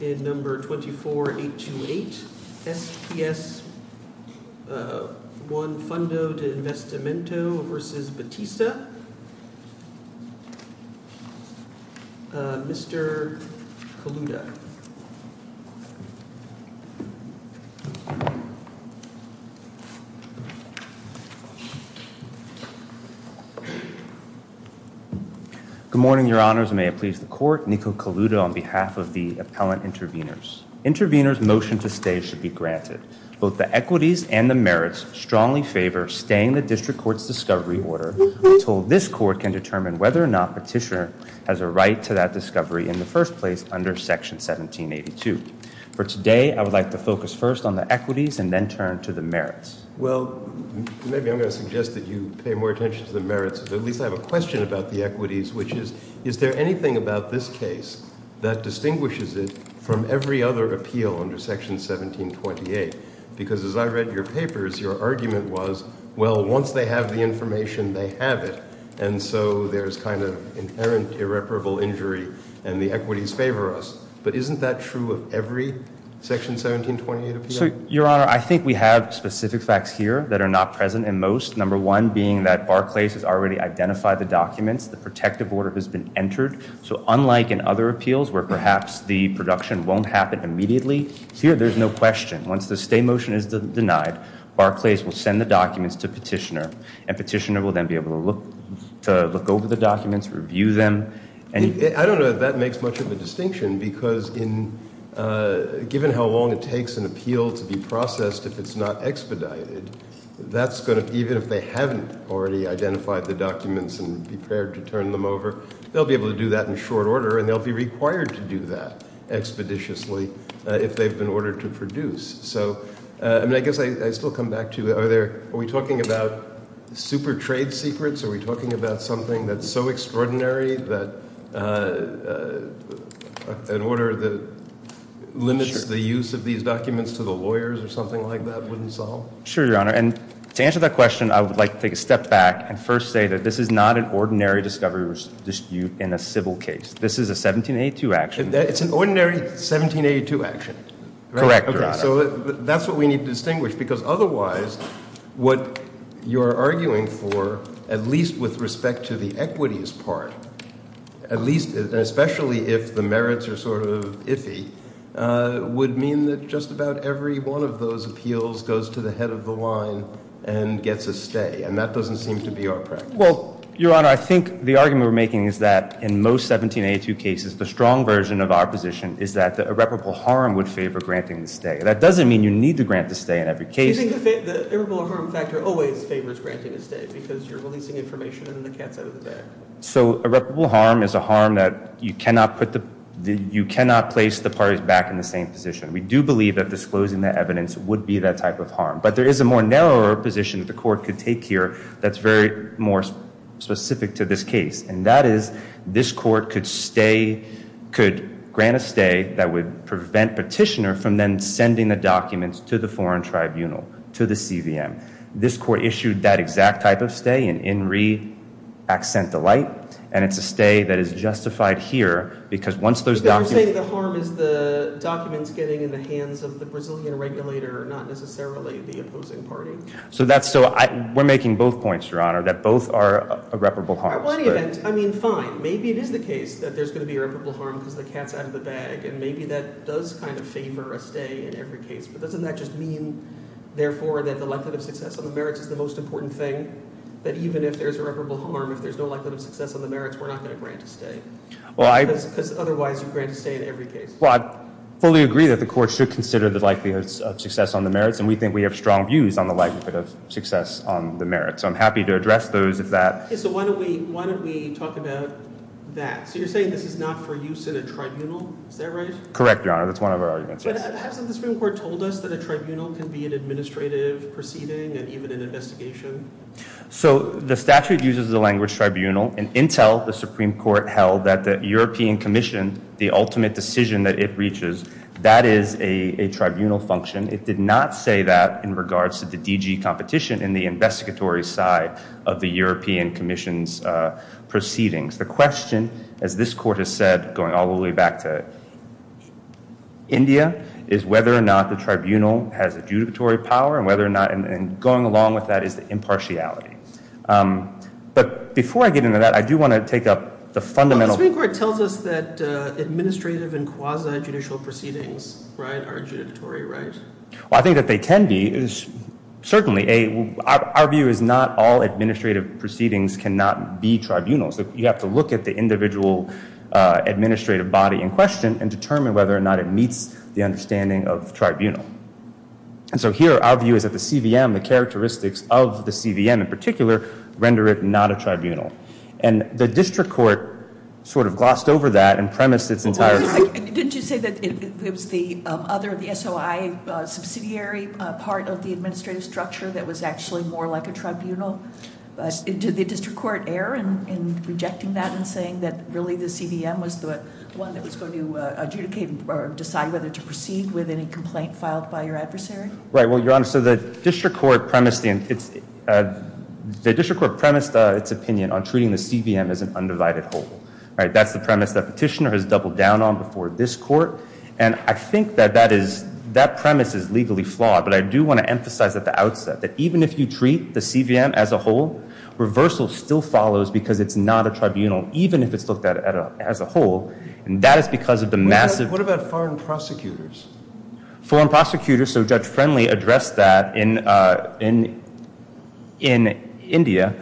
in Number 24828, SPS I Fundo de Investimento v. Batista. Mr. Kaluta. Good morning, Your Honors, and may it please the Court. Nico Kaluta on behalf of the Appellant Intervenors. Intervenors' motion to stay should be granted. Both the equities and the merits strongly favor staying the District Court's discovery order until this Court can determine whether or not Petitioner has a right to that discovery in the first place under Section 1782. For today, I would like to focus first on the equities and then turn to the merits. Well, maybe I'm going to suggest that you pay more attention to the merits, but at least I have a question about the equities, which is, is there anything about this case that distinguishes it from every other appeal under Section 1728? Because as I read your papers, your argument was, well, once they have the information, they have it, and so there's kind of inherent irreparable injury, and the equities favor us. But isn't that true of every Section 1728 appeal? So, Your Honor, I think we have specific facts here that are not present in most, number one being that Barclays has already identified the documents, the protective order has been entered, so unlike in other appeals where perhaps the production won't happen immediately, here there's no question. Once the stay motion is denied, Barclays will send the documents to Petitioner, and Petitioner will then be able to look over the documents, review them. I don't know if that makes much of a distinction, because given how long it takes an appeal to be processed if it's not expedited, that's going to, even if they haven't already identified the documents and prepared to turn them over, they'll be able to do that in short order, and they'll be required to do that expeditiously if they've been ordered to produce. So, I mean, I guess I still come back to, are we talking about super trade secrets? Are we talking about something that's so extraordinary that an order that limits the use of these documents to the lawyers or something like that wouldn't solve? Sure, Your Honor, and to answer that question, I would like to take a step back and first say that this is not an ordinary discovery dispute in a civil case. This is a 1782 action. It's an ordinary 1782 action? Correct, Your Honor. Okay, so that's what we need to distinguish, because otherwise what you're arguing for, at least with respect to the equities part, at least, and especially if the merits are sort of iffy, would mean that just about every one of those appeals goes to the head of the line and gets a stay, and that doesn't seem to be our practice. Well, Your Honor, I think the argument we're making is that in most 1782 cases, the strong version of our position is that the irreparable harm would favor granting the stay. That doesn't mean you need to grant the stay in every case. You think the irreparable harm factor always favors granting a stay, because you're releasing information and the cat's out of the bag. So irreparable harm is a harm that you cannot place the parties back in the same position. We do believe that disclosing the evidence would be that type of harm, but there is a more narrower position that the court could take here that's very more specific to this case, and that is this court could grant a stay that would prevent petitioner from then sending the documents to the foreign tribunal, to the CVM. This court issued that exact type of stay in In Re Accent Delight, and it's a stay that is justified here, because once there's documents. You're saying the harm is the documents getting in the hands of the Brazilian regulator, not necessarily the opposing party. So that's so, we're making both points, Your Honor, that both are irreparable harms. I mean, fine, maybe it is the case that there's going to be irreparable harm because the cat's out of the bag, and maybe that does kind of favor a stay in every case, but doesn't that just mean, therefore, that the likelihood of success on the merits is the most important thing, that even if there's irreparable harm, if there's no likelihood of success on the merits, you're not going to grant a stay? Because otherwise, you grant a stay in every case. Well, I fully agree that the court should consider the likelihood of success on the merits, and we think we have strong views on the likelihood of success on the merits. So I'm happy to address those if that. So why don't we talk about that? So you're saying this is not for use in a tribunal, is that right? Correct, Your Honor, that's one of our arguments. But hasn't the Supreme Court told us that a tribunal can be an administrative proceeding and even an investigation? So the statute uses the language tribunal, and Intel, the Supreme Court, held that the European Commission, the ultimate decision that it reaches, that is a tribunal function. It did not say that in regards to the DG competition in the investigatory side of the European Commission's proceedings. The question, as this court has said, going all the way back to India, is whether or not the tribunal has adjudicatory power, and whether or not, and going along with that, is the impartiality. But before I get into that, I do want to take up the fundamental... Well, the Supreme Court tells us that administrative and quasi-judicial proceedings are adjudicatory, right? Well, I think that they can be. Certainly, our view is not all administrative proceedings cannot be tribunals. You have to look at the individual administrative body in question and determine whether or not it meets the understanding of tribunal. And so here, our view is that the CVM, the characteristics of the CVM in particular, render it not a tribunal. And the district court sort of glossed over that and premised its entire... Didn't you say that it was the other, the SOI subsidiary part of the administrative structure that was actually more like a tribunal? Did the district court err in rejecting that and saying that really the CVM was the one that was going to adjudicate or decide whether to proceed with any complaint filed by your adversary? Right. Well, Your Honor, so the district court premised the... The district court premised its opinion on treating the CVM as an undivided whole, right? That's the premise that petitioner has doubled down on before this court. And I think that that premise is legally flawed. But I do want to emphasize at the outset that even if you treat the CVM as a whole, reversal still follows because it's not a tribunal, even if it's looked at as a whole. And that is because of the massive... In India,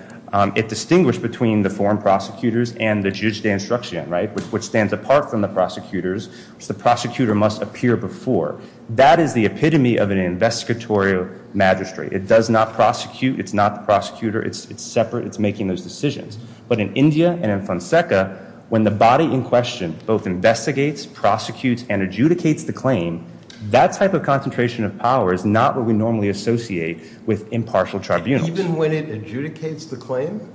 it distinguished between the foreign prosecutors and the judge d'instruction, right, which stands apart from the prosecutors. So the prosecutor must appear before. That is the epitome of an investigatory magistrate. It does not prosecute. It's not the prosecutor. It's separate. It's making those decisions. But in India and in Fonseca, when the body in question both investigates, prosecutes, and adjudicates the claim, that type of concentration of power is not what we normally associate with impartial tribunals. Even when it adjudicates the claim?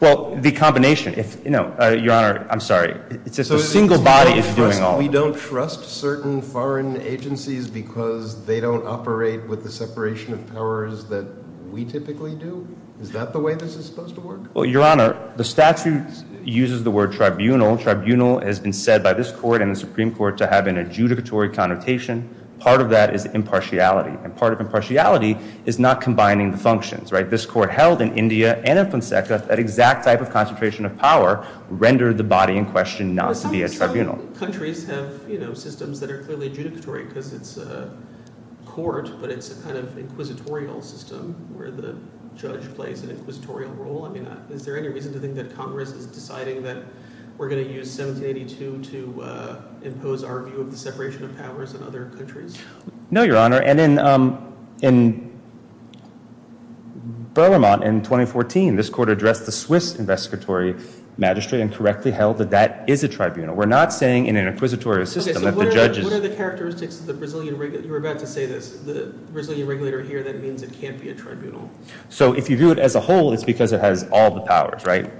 Well, the combination. Your Honor, I'm sorry. It's just a single body is doing all... We don't trust certain foreign agencies because they don't operate with the separation of powers that we typically do? Is that the way this is supposed to work? Well, Your Honor, the statute uses the word tribunal. Tribunal has been said by this court and the Supreme Court to have an adjudicatory connotation. Part of that is impartiality. And part of impartiality is not combining the functions, right? This court held in India and in Fonseca that exact type of concentration of power rendered the body in question not to be a tribunal. Some countries have systems that are clearly adjudicatory because it's a court, but it's a kind of inquisitorial system where the judge plays an inquisitorial role. I mean, is there any reason to think that Congress is deciding that we're going to use 1782 to impose our view of the separation of powers in other countries? No, Your Honor. And in Beauremont in 2014, this court addressed the Swiss investigatory magistrate and correctly held that that is a tribunal. We're not saying in an inquisitorial system that the judge is... Okay, so what are the characteristics of the Brazilian... You were about to say this. The Brazilian regulator here, that means it can't be a tribunal. So if you view it as a whole, it's because it has all the powers, right?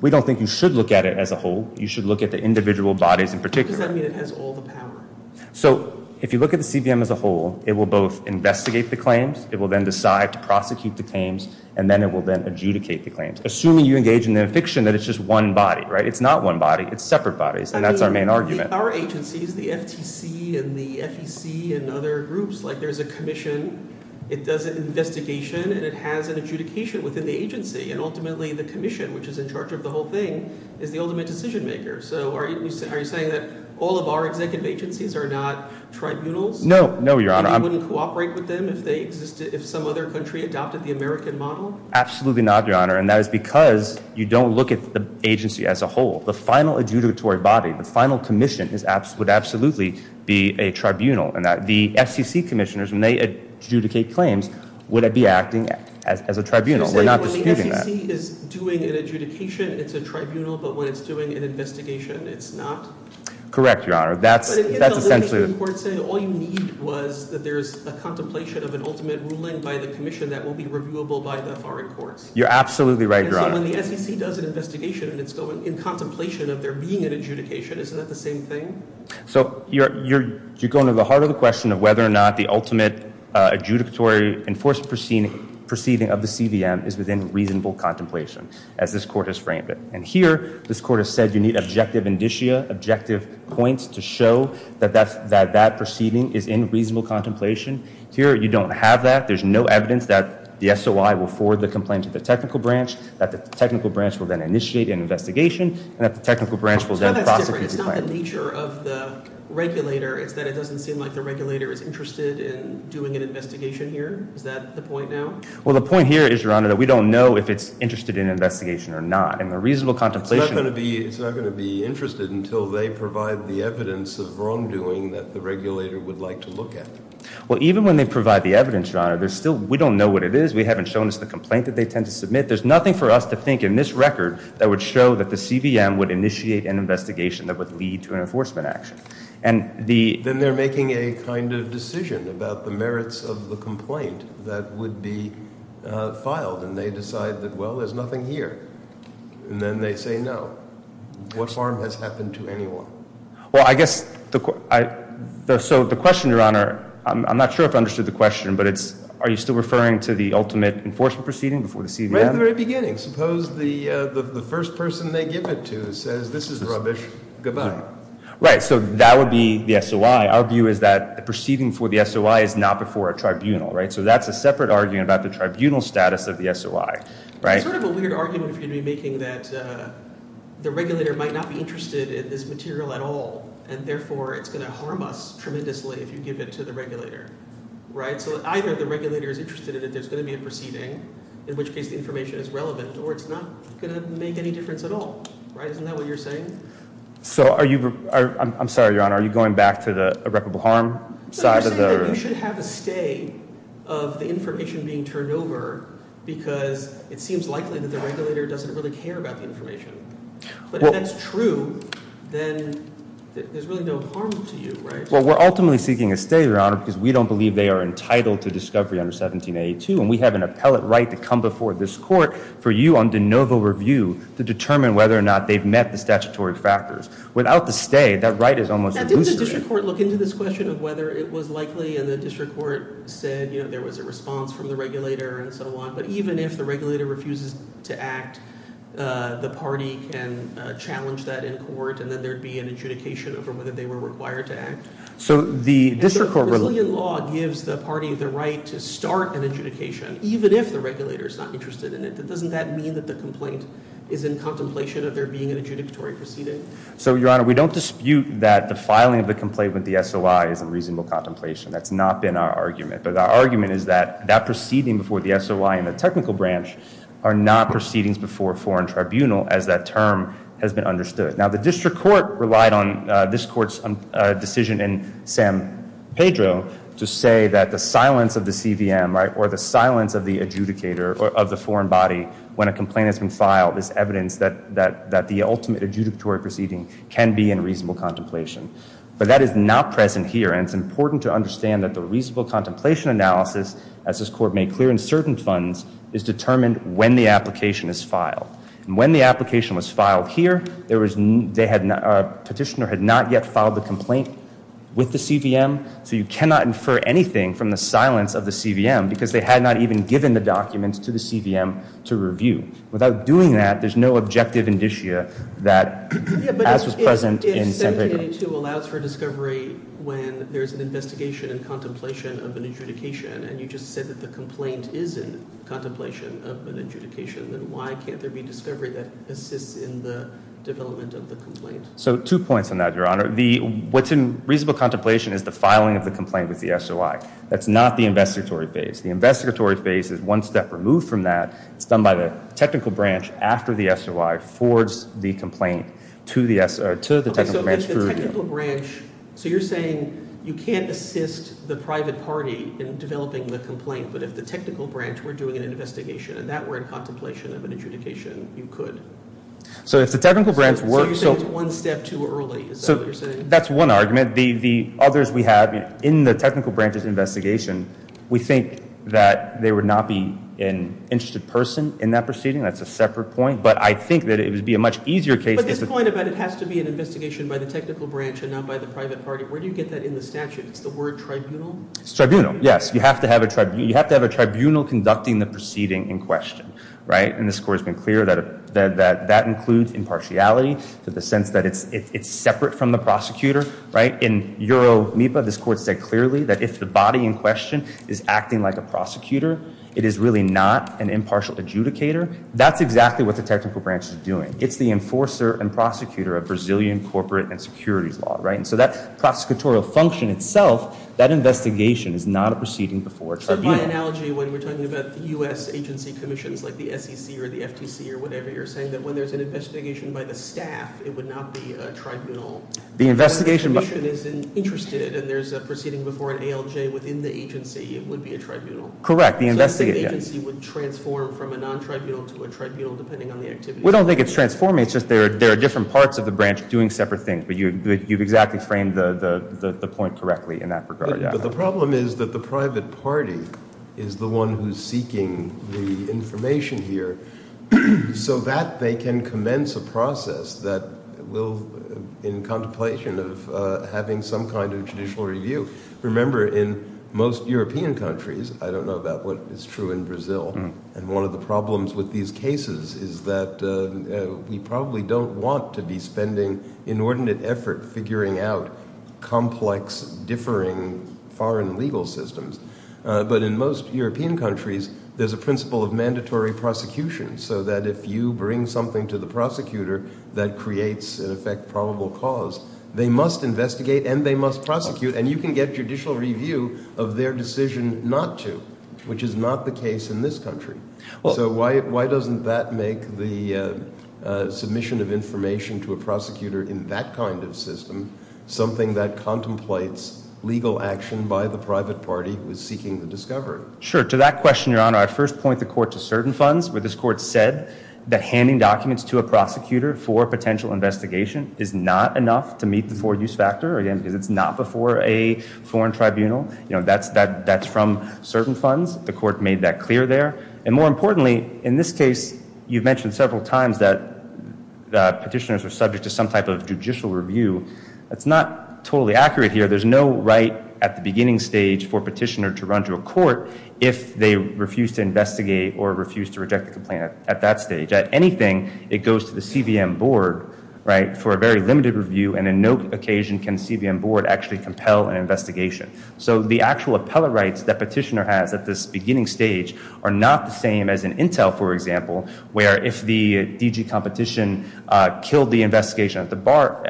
We don't think you should look at it as a whole. You should look at the individual bodies in particular. What does that mean, it has all the power? So if you look at the CVM as a whole, it will both investigate the claims, it will then decide to prosecute the claims, and then it will then adjudicate the claims. Assuming you engage in the affixion that it's just one body, right? It's not one body, it's separate bodies. And that's our main argument. Our agencies, the FTC and the FEC and other groups, like there's a commission, it does an investigation and it has an adjudication within the agency. And ultimately, the commission, which is in charge of the whole thing, is the ultimate decision maker. So are you saying that all of our executive agencies are not tribunals? No, no, Your Honor. And you wouldn't cooperate with them if some other country adopted the American model? Absolutely not, Your Honor. And that is because you don't look at the agency as a whole. The final adjudicatory body, the final commission would absolutely be a tribunal. And that the FCC commissioners, when they adjudicate claims, would be acting as a tribunal. We're not disputing that. So you're saying when the FCC is doing an adjudication, it's a tribunal, but when it's doing an investigation, it's not? Correct, Your Honor. That's essentially... But isn't the litigation court saying all you need was that there's a contemplation of an ultimate ruling by the commission that will be reviewable by the foreign courts? You're absolutely right, Your Honor. And so when the FCC does an investigation and it's going in contemplation of there being an adjudication, isn't that the same thing? So you're going to the heart of the question of whether or not the ultimate adjudicatory enforced proceeding of the CVM is within reasonable contemplation, as this court has framed it. And here, this court has said you need objective indicia, objective points to show that that proceeding is in reasonable contemplation. Here, you don't have that. There's no evidence that the SOI will forward the complaint to the technical branch, that the technical branch will then initiate an investigation, and that the technical branch will then prosecute the claim. So that's different. It's not the nature of the regulator. It's that it doesn't seem like the regulator is interested in doing an investigation here. Is that the point now? Well, the point here is, Your Honor, that we don't know if it's interested in an investigation or not. And the reasonable contemplation... It's not going to be interested until they provide the evidence of wrongdoing that the regulator would like to look at. Well, even when they provide the evidence, Your Honor, there's still... We don't know what it is. We haven't shown us the complaint that they tend to submit. There's nothing for us to think in this record that would show that the CVM would initiate an investigation that would lead to an enforcement action. And the... that would be filed. And they decide that, well, there's nothing here. And then they say no. What harm has happened to anyone? Well, I guess... So the question, Your Honor... I'm not sure if I understood the question, but it's, are you still referring to the ultimate enforcement proceeding before the CVM? Right at the very beginning. Suppose the first person they give it to says, this is rubbish, goodbye. Right, so that would be the SOI. Our view is that the proceeding for the SOI is not before a tribunal, right? So that's a separate argument about the tribunal status of the SOI, right? It's sort of a weird argument for you to be making that the regulator might not be interested in this material at all, and therefore it's going to harm us tremendously if you give it to the regulator, right? So either the regulator is interested in it, there's going to be a proceeding, in which case the information is relevant, or it's not going to make any difference at all, right? Isn't that what you're saying? So are you... You should have a stay of the information being turned over, because it seems likely that the regulator doesn't really care about the information. But if that's true, then there's really no harm to you, right? Well, we're ultimately seeking a stay, Your Honor, because we don't believe they are entitled to discovery under 1782, and we have an appellate right to come before this court for you on de novo review to determine whether or not they've met the statutory factors. Without the stay, that right is almost... Didn't the district court look into this question of whether it was likely, and the district court said, you know, there was a response from the regulator and so on, but even if the regulator refuses to act, the party can challenge that in court, and then there'd be an adjudication over whether they were required to act. So the district court... The Brazilian law gives the party the right to start an adjudication, even if the regulator is not interested in it. Doesn't that mean that the complaint is in contemplation of there being an adjudicatory proceeding? So, Your Honor, we don't dispute that the filing of the complaint with the SOI is in reasonable contemplation. That's not been our argument, but our argument is that that proceeding before the SOI and the technical branch are not proceedings before a foreign tribunal as that term has been understood. Now, the district court relied on this court's decision in San Pedro to say that the silence of the CVM, right, or the silence of the adjudicator of the foreign body when a complaint has been filed is evidence that the ultimate adjudicatory proceeding can be in reasonable contemplation. But that is not present here, and it's important to understand that the reasonable contemplation analysis, as this court made clear in certain funds, is determined when the application is filed. And when the application was filed here, petitioner had not yet filed the complaint with the CVM, so you cannot infer anything from the silence of the CVM because they had not even given the documents to the CVM to review. Without doing that, there's no objective indicia that as was present in San Pedro. If 1782 allows for discovery when there's an investigation and contemplation of an adjudication, and you just said that the complaint is in contemplation of an adjudication, then why can't there be discovery that assists in the development of the complaint? So two points on that, Your Honor. What's in reasonable contemplation is the filing of the complaint with the SOI. That's not the investigatory phase. The investigatory phase is one step removed from that. It's done by the technical branch after the SOI forwards the complaint to the technical branch. Okay, so if the technical branch... So you're saying you can't assist the private party in developing the complaint, but if the technical branch were doing an investigation and that were in contemplation of an adjudication, you could? So if the technical branch works... So you're saying it's one step too early, is that what you're saying? That's one argument. The others we have in the technical branch's investigation, we think that they would not be an interested person in that proceeding. That's a separate point. But I think that it would be a much easier case... But this point about it has to be an investigation by the technical branch and not by the private party, where do you get that in the statute? It's the word tribunal? It's tribunal, yes. You have to have a tribunal conducting the proceeding in question, right? And this Court has been clear that that includes impartiality to the sense that it's separate from the prosecutor, right? In Euro MIPA, this Court said clearly that if the body in question is acting like a prosecutor, it is really not an impartial adjudicator. That's exactly what the technical branch is doing. It's the enforcer and prosecutor of Brazilian corporate and securities law, right? And so that prosecutorial function itself, that investigation is not a proceeding before a tribunal. So by analogy, when we're talking about the U.S. agency commissions, like the SEC or the FTC or whatever, you're saying that when there's an investigation by the staff, it would not be a tribunal? The investigation... The commission is interested and there's a proceeding before an ALJ within the agency, it would be a tribunal? Correct, the investigation... So the agency would transform from a non-tribunal to a tribunal depending on the activity? We don't think it's transforming, it's just there are different parts of the branch doing separate things, but you've exactly framed the point correctly in that regard, yeah. The problem is that the private party is the one who's seeking the information here so that they can commence a process that will, in contemplation of having some kind of judicial review. Remember, in most European countries, I don't know about what is true in Brazil, and one of the problems with these cases is that we probably don't want to be spending inordinate effort figuring out complex, differing foreign legal systems. But in most European countries, there's a principle of mandatory prosecution so that if you bring something to the prosecutor that creates, in effect, probable cause, they must investigate and they must prosecute and you can get judicial review of their decision not to, which is not the case in this country. So why doesn't that make the submission of information to a prosecutor in that kind of system something that contemplates legal action by the private party who is seeking the discovery? Sure. To that question, Your Honor, I first point the court to certain funds where this court said that handing documents to a prosecutor for a potential investigation is not enough to meet the four-use factor, again, because it's not before a foreign tribunal. You know, that's from certain funds. The court made that clear there. And more importantly, in this case, you've mentioned several times that the petitioners are subject to some type of judicial review. That's not totally accurate here. There's no right at the beginning stage for a petitioner to run to a court if they refuse to investigate or refuse to reject the complaint at that stage. At anything, it goes to the CVM board, right, for a very limited review and in no occasion can CVM board actually compel an investigation. So the actual appellate rights that petitioner has at this beginning stage are not the same as an intel, for example, where if the DG competition killed the investigation at the bar,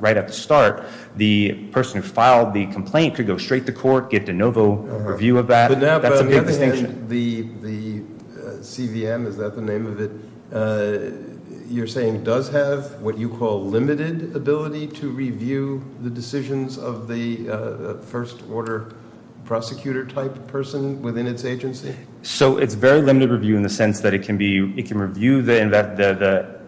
right at the start, the person who filed the complaint could go straight to court, get de novo review of that. That's a big distinction. The CVM, is that the name of it, you're saying does have what you call limited ability to review the decisions of the first order prosecutor type person within its agency? So it's very limited review in the sense that it can review the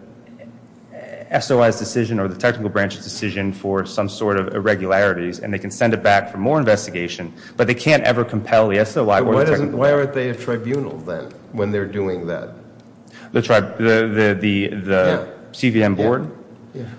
SOI's decision or the technical branch's decision for some sort of irregularities and they can send it back for more investigation, but they can't ever compel the SOI. Why aren't they a tribunal then when they're doing that? The CVM board?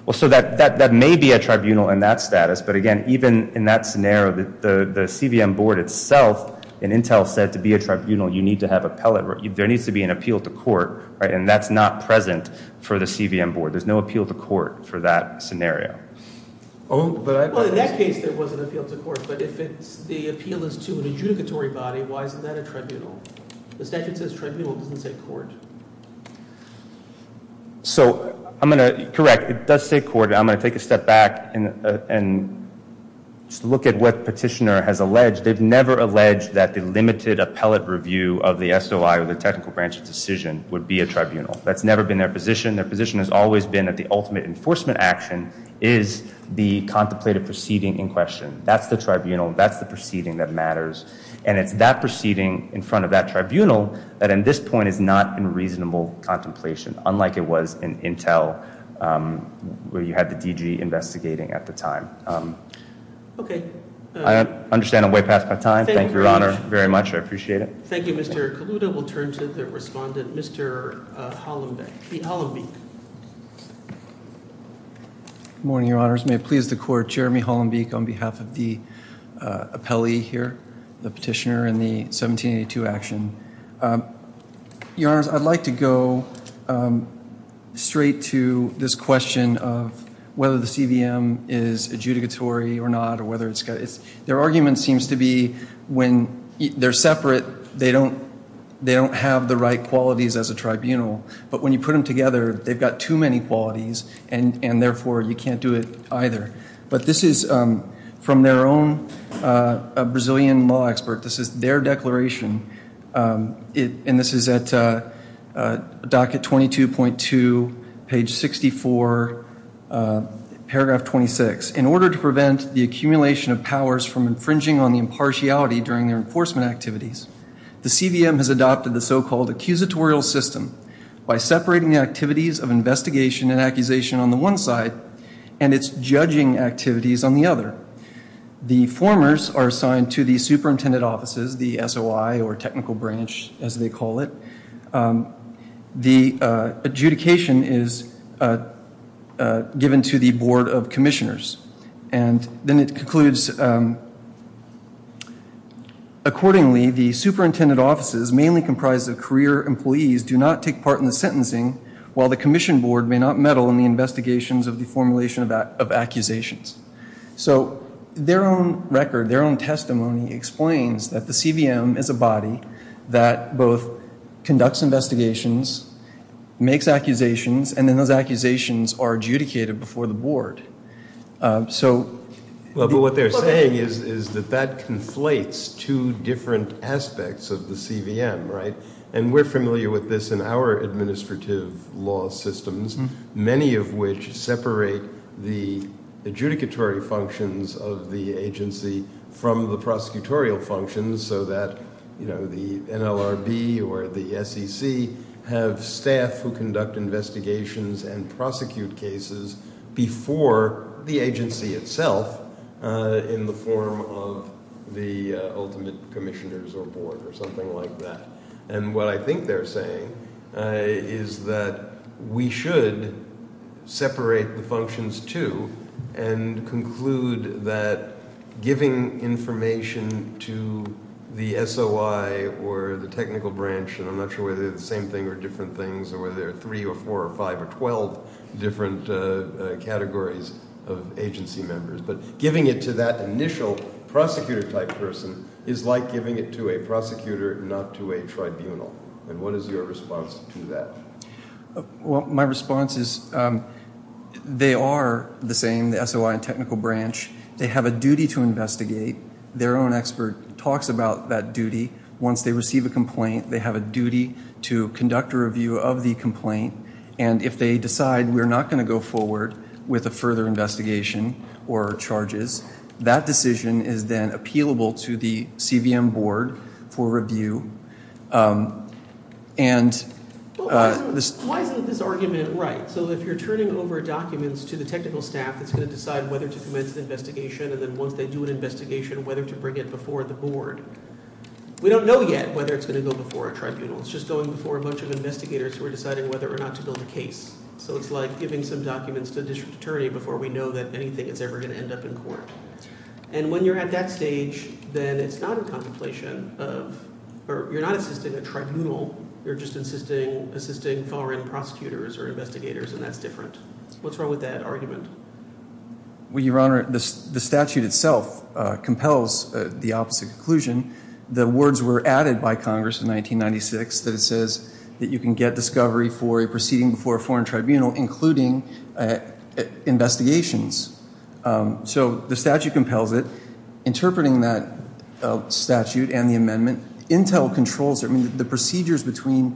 Well, so that may be a tribunal in that status, but again, even in that scenario, the CVM board itself and intel said to be a tribunal, you need to have appellate, there needs to be an appeal to court, right, and that's not present for the CVM board. There's no appeal to court for that scenario. Oh, but in that case, there was an appeal to court, but if the appeal is to an adjudicatory body, why isn't that a tribunal? The statute says tribunal, it doesn't say court. So I'm going to, correct, it does say court. I'm going to take a step back and just look at what petitioner has alleged. They've never alleged that the limited appellate review of the SOI or the technical branch's decision would be a tribunal. That's never been their position. Their position has always been that the ultimate enforcement action is the contemplated proceeding in question. That's the tribunal, that's the proceeding that matters, and it's that proceeding in front of that tribunal that in this point is not in reasonable contemplation, unlike it was in intel where you had the DG investigating at the time. Okay. I understand I'm way past my time. Thank you, Your Honor, very much. I appreciate it. Thank you, Mr. Kaluta. We'll turn to the respondent, Mr. Hollenbeek. Morning, Your Honors. May it please the court, Jeremy Hollenbeek on behalf of the appellee here, the petitioner in the 1782 action. Your Honors, I'd like to go straight to this question of whether the CVM is adjudicatory or not or whether it's got... Their argument seems to be when they're separate, they don't have the right qualities as a tribunal, but when you put them together, they've got too many qualities and therefore you can't do it either. But this is from their own Brazilian law expert. This is their declaration. And this is at docket 22.2, page 64, paragraph 26. In order to prevent the accumulation of powers from infringing on the impartiality during their enforcement activities, the CVM has adopted the so-called accusatorial system by separating the activities of investigation and accusation on the one side and its judging activities on the other. The formers are assigned to the superintendent offices, the SOI or technical branch, as they call it. The adjudication is given to the board of commissioners. And then it concludes, accordingly, the superintendent offices, mainly comprised of career employees, do not take part in the sentencing while the commission board may not meddle in the investigations of the formulation of accusations. So their own record, their own testimony explains that the CVM is a body that both conducts investigations, makes accusations, and then those accusations are adjudicated before the board. So what they're saying is that that conflates two different aspects of the CVM, right? And we're familiar with this in our administrative law systems, many of which separate the adjudicatory functions of the agency from the prosecutorial functions so that the NLRB or the SEC have staff who conduct investigations and prosecute cases before the agency itself in the form of the ultimate commissioners or board or something like that. And what I think they're saying is that we should separate the functions too and conclude that giving information to the SOI or the technical branch, and I'm not sure whether they're the same thing or different things or whether there are three or four or five or 12 different categories of agency members, but giving it to that initial prosecutor type person is like giving it to a prosecutor, not to a tribunal. And what is your response to that? Well, my response is they are the same, the SOI and technical branch. They have a duty to investigate. Their own expert talks about that duty. Once they receive a complaint, they have a duty to conduct a review of the complaint. And if they decide we're not going to go forward with a further investigation or charges, that decision is then appealable to the CVM board for review. And why isn't this argument right? So if you're turning over documents to the technical staff that's going to decide whether to commence the investigation, we don't know yet whether it's going to go before a tribunal. It's just going before a bunch of investigators who are deciding whether or not to build a case. So it's like giving some documents to a district attorney before we know that anything is ever going to end up in court. And when you're at that stage, then it's not a contemplation of, or you're not assisting a tribunal. You're just assisting foreign prosecutors or investigators, and that's different. What's wrong with that argument? Well, Your Honor, the statute itself compels the opposite conclusion. The words were added by Congress in 1996 that it says that you can get discovery for a proceeding before a foreign tribunal, including investigations. So the statute compels it. Interpreting that statute and the amendment, intel controls it. I mean, the procedures between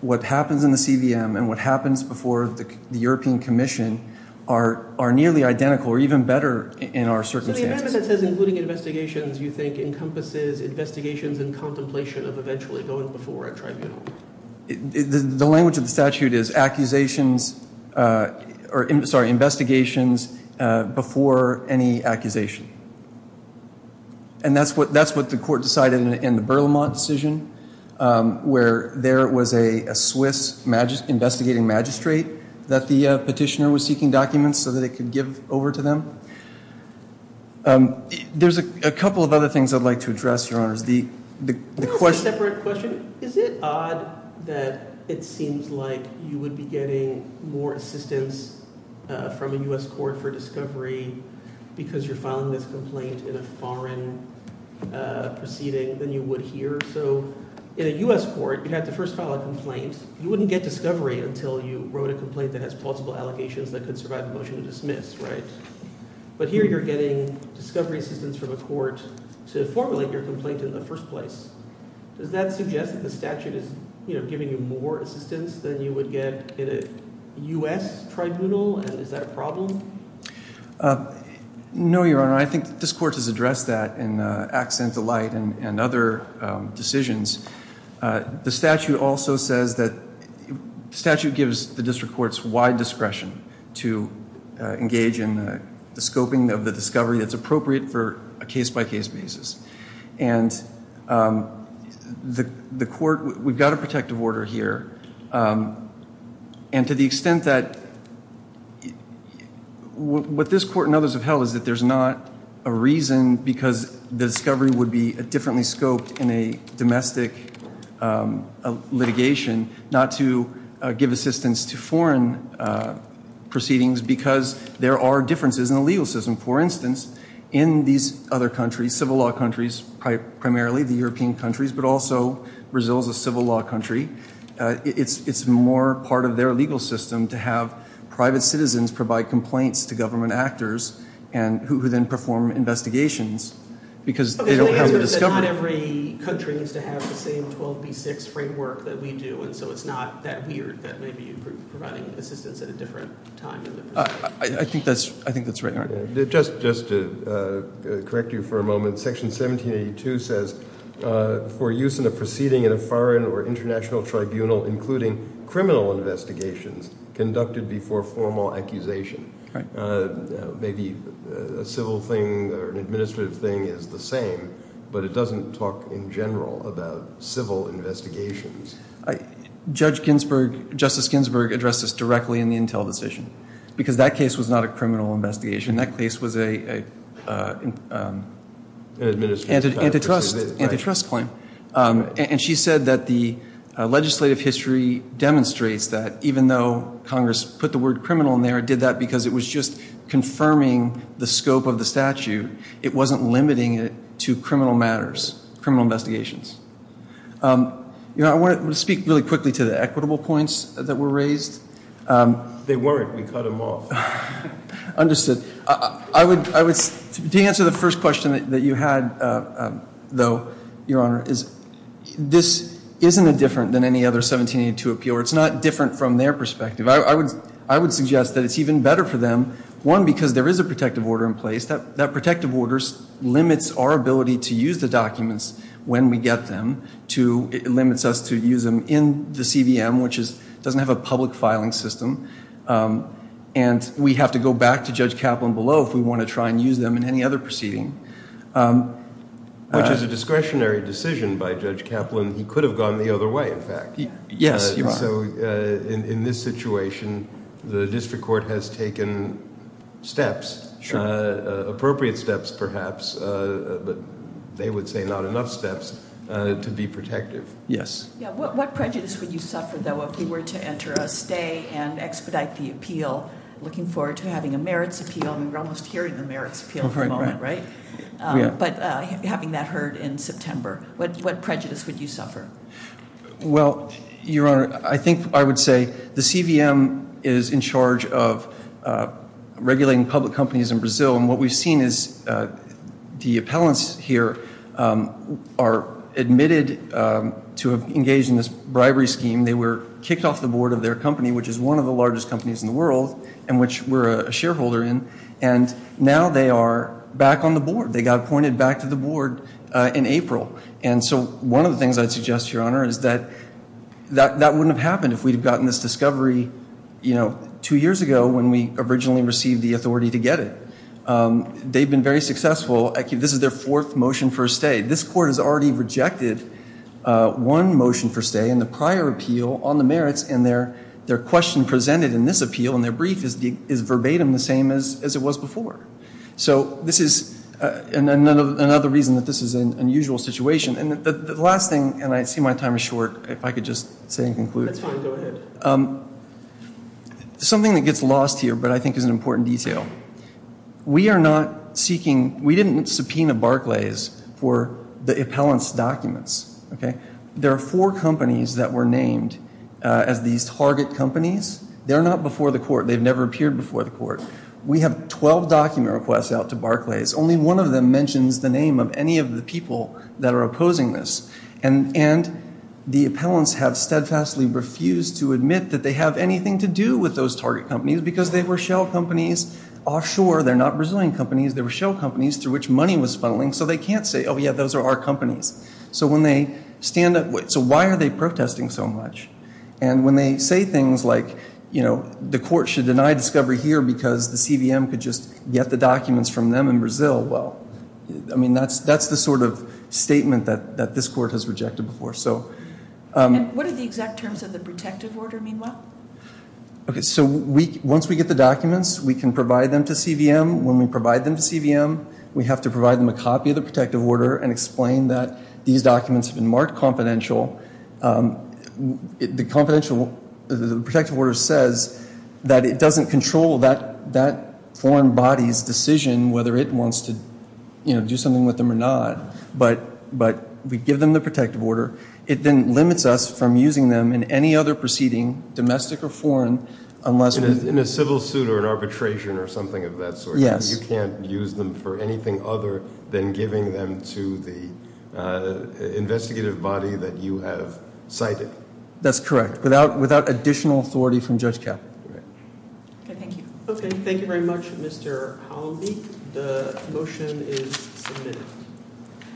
what happens in the CVM and what happens before the European Commission are nearly identical or even better in our circumstances. So the amendment that says including investigations, you think, encompasses investigations and contemplation of eventually going before a tribunal? The language of the statute is accusations, or sorry, investigations before any accusation. And that's what the court decided in the Berlamont decision, where there was a Swiss investigating magistrate that the petitioner was seeking documents so that it could give over to them. There's a couple of other things I'd like to address, Your Honors. There's a separate question. Is it odd that it seems like you would be getting more assistance from a U.S. court for discovery because you're filing this complaint in a foreign proceeding than you would here? You wouldn't get discovery until you wrote a complaint that has possible allegations that could survive the motion to dismiss, right? But here you're getting discovery assistance from a court to formulate your complaint in the first place. Does that suggest that the statute is giving you more assistance than you would get in a U.S. tribunal? And is that a problem? No, Your Honor. I think this court has addressed that in Accent of Light and other decisions. The statute also says that the statute gives the district courts wide discretion to engage in the scoping of the discovery that's appropriate for a case-by-case basis. And the court, we've got a protective order here. And to the extent that what this court and others have held is that there's not a reason because the discovery would be differently scoped in a domestic litigation, not to give assistance to foreign proceedings because there are differences in the legal system. For instance, in these other countries, civil law countries primarily, the European countries, but also Brazil is a civil law country. It's more part of their legal system to have private citizens provide complaints to government actors who then perform investigations because they don't have a discovery. But not every country needs to have the same 12B6 framework that we do, and so it's not that weird that maybe you're providing assistance at a different time. I think that's right, Your Honor. Just to correct you for a moment, section 1782 says, for use in a proceeding in a foreign or international tribunal, including criminal investigations, conducted before formal accusation. Maybe a civil thing or an administrative thing is the same, but it doesn't talk in general about civil investigations. Judge Ginsburg, Justice Ginsburg, addressed this directly in the Intel decision because that case was not a criminal investigation. That case was an antitrust claim. And she said that the legislative history demonstrates that even though Congress put the word criminal in there, it did that because it was just confirming the scope of the statute. It wasn't limiting it to criminal matters, criminal investigations. You know, I want to speak really quickly to the equitable points that were raised. They weren't. We cut them off. Understood. I would, to answer the first question that you had, though, Your Honor, is this isn't a different than any other 1782 appeal, or it's not different from their perspective. I would suggest that it's even better for them, one, because there is a protective order in place. That protective order limits our ability to use the documents when we get them. Two, it limits us to use them in the CVM, which doesn't have a public filing system. And we have to go back to Judge Kaplan below if we want to try and use them in any other proceeding. Which is a discretionary decision by Judge Kaplan. He could have gone the other way, in fact. Yes, Your Honor. So in this situation, the district court has taken steps, appropriate steps, perhaps. But they would say not enough steps to be protective. Yes. What prejudice would you suffer, though, if you were to enter a stay and expedite the appeal, looking forward to having a merits appeal? I mean, we're almost hearing the merits appeal at the moment, right? But having that heard in September, what prejudice would you suffer? Well, Your Honor, I think I would say the CVM is in charge of regulating public companies in Brazil. And what we've seen is the appellants here are admitted to have engaged in this bribery scheme. They were kicked off the board of their company, which is one of the largest companies in the world, and which we're a shareholder in. And now they are back on the board. They got appointed back to the board in April. And so one of the things I'd suggest, Your Honor, is that that wouldn't have happened if we'd have gotten this discovery two years ago when we originally received the authority to get it. They've been very successful. This is their fourth motion for a stay. This court has already rejected one motion for stay in the prior appeal on the merits, and their question presented in this appeal, in their brief, is verbatim the same as it was before. So this is another reason that this is an unusual situation. And the last thing, and I see my time is short, if I could just say and conclude. It's fine, go ahead. Something that gets lost here, but I think is an important detail. We are not seeking, we didn't subpoena Barclays for the appellant's documents, okay? There are four companies that were named as these target companies. They're not before the court. They've never appeared before the court. We have 12 document requests out to Barclays. Only one of them mentions the name of any of the people that are opposing this. And the appellants have steadfastly refused to admit that they have anything to do with those target companies because they were shell companies offshore. They're not Brazilian companies. They were shell companies through which money was funneling. So they can't say, oh yeah, those are our companies. So when they stand up, so why are they protesting so much? And when they say things like, you know, the court should deny discovery here because the CVM could just get the documents from them in Brazil. Well, I mean, that's the sort of statement that this court has rejected before, so. And what do the exact terms of the protective order mean, Will? Okay, so once we get the documents, we can provide them to CVM. When we provide them to CVM, we have to provide them a copy of the protective order and explain that these documents have been marked confidential. The confidential, the protective order says that it doesn't control that foreign body's decision, whether it wants to, you know, do something with them or not. But we give them the protective order. It then limits us from using them in any other proceeding, domestic or foreign, unless we. In a civil suit or an arbitration or something of that sort. Yes. You can't use them for anything other than giving them to the investigative body that you have cited. That's correct, without additional authority from Judge Caput. Right. Okay, thank you. Okay, thank you very much, Mr. Howell-Leak. The motion is submitted. Thank you.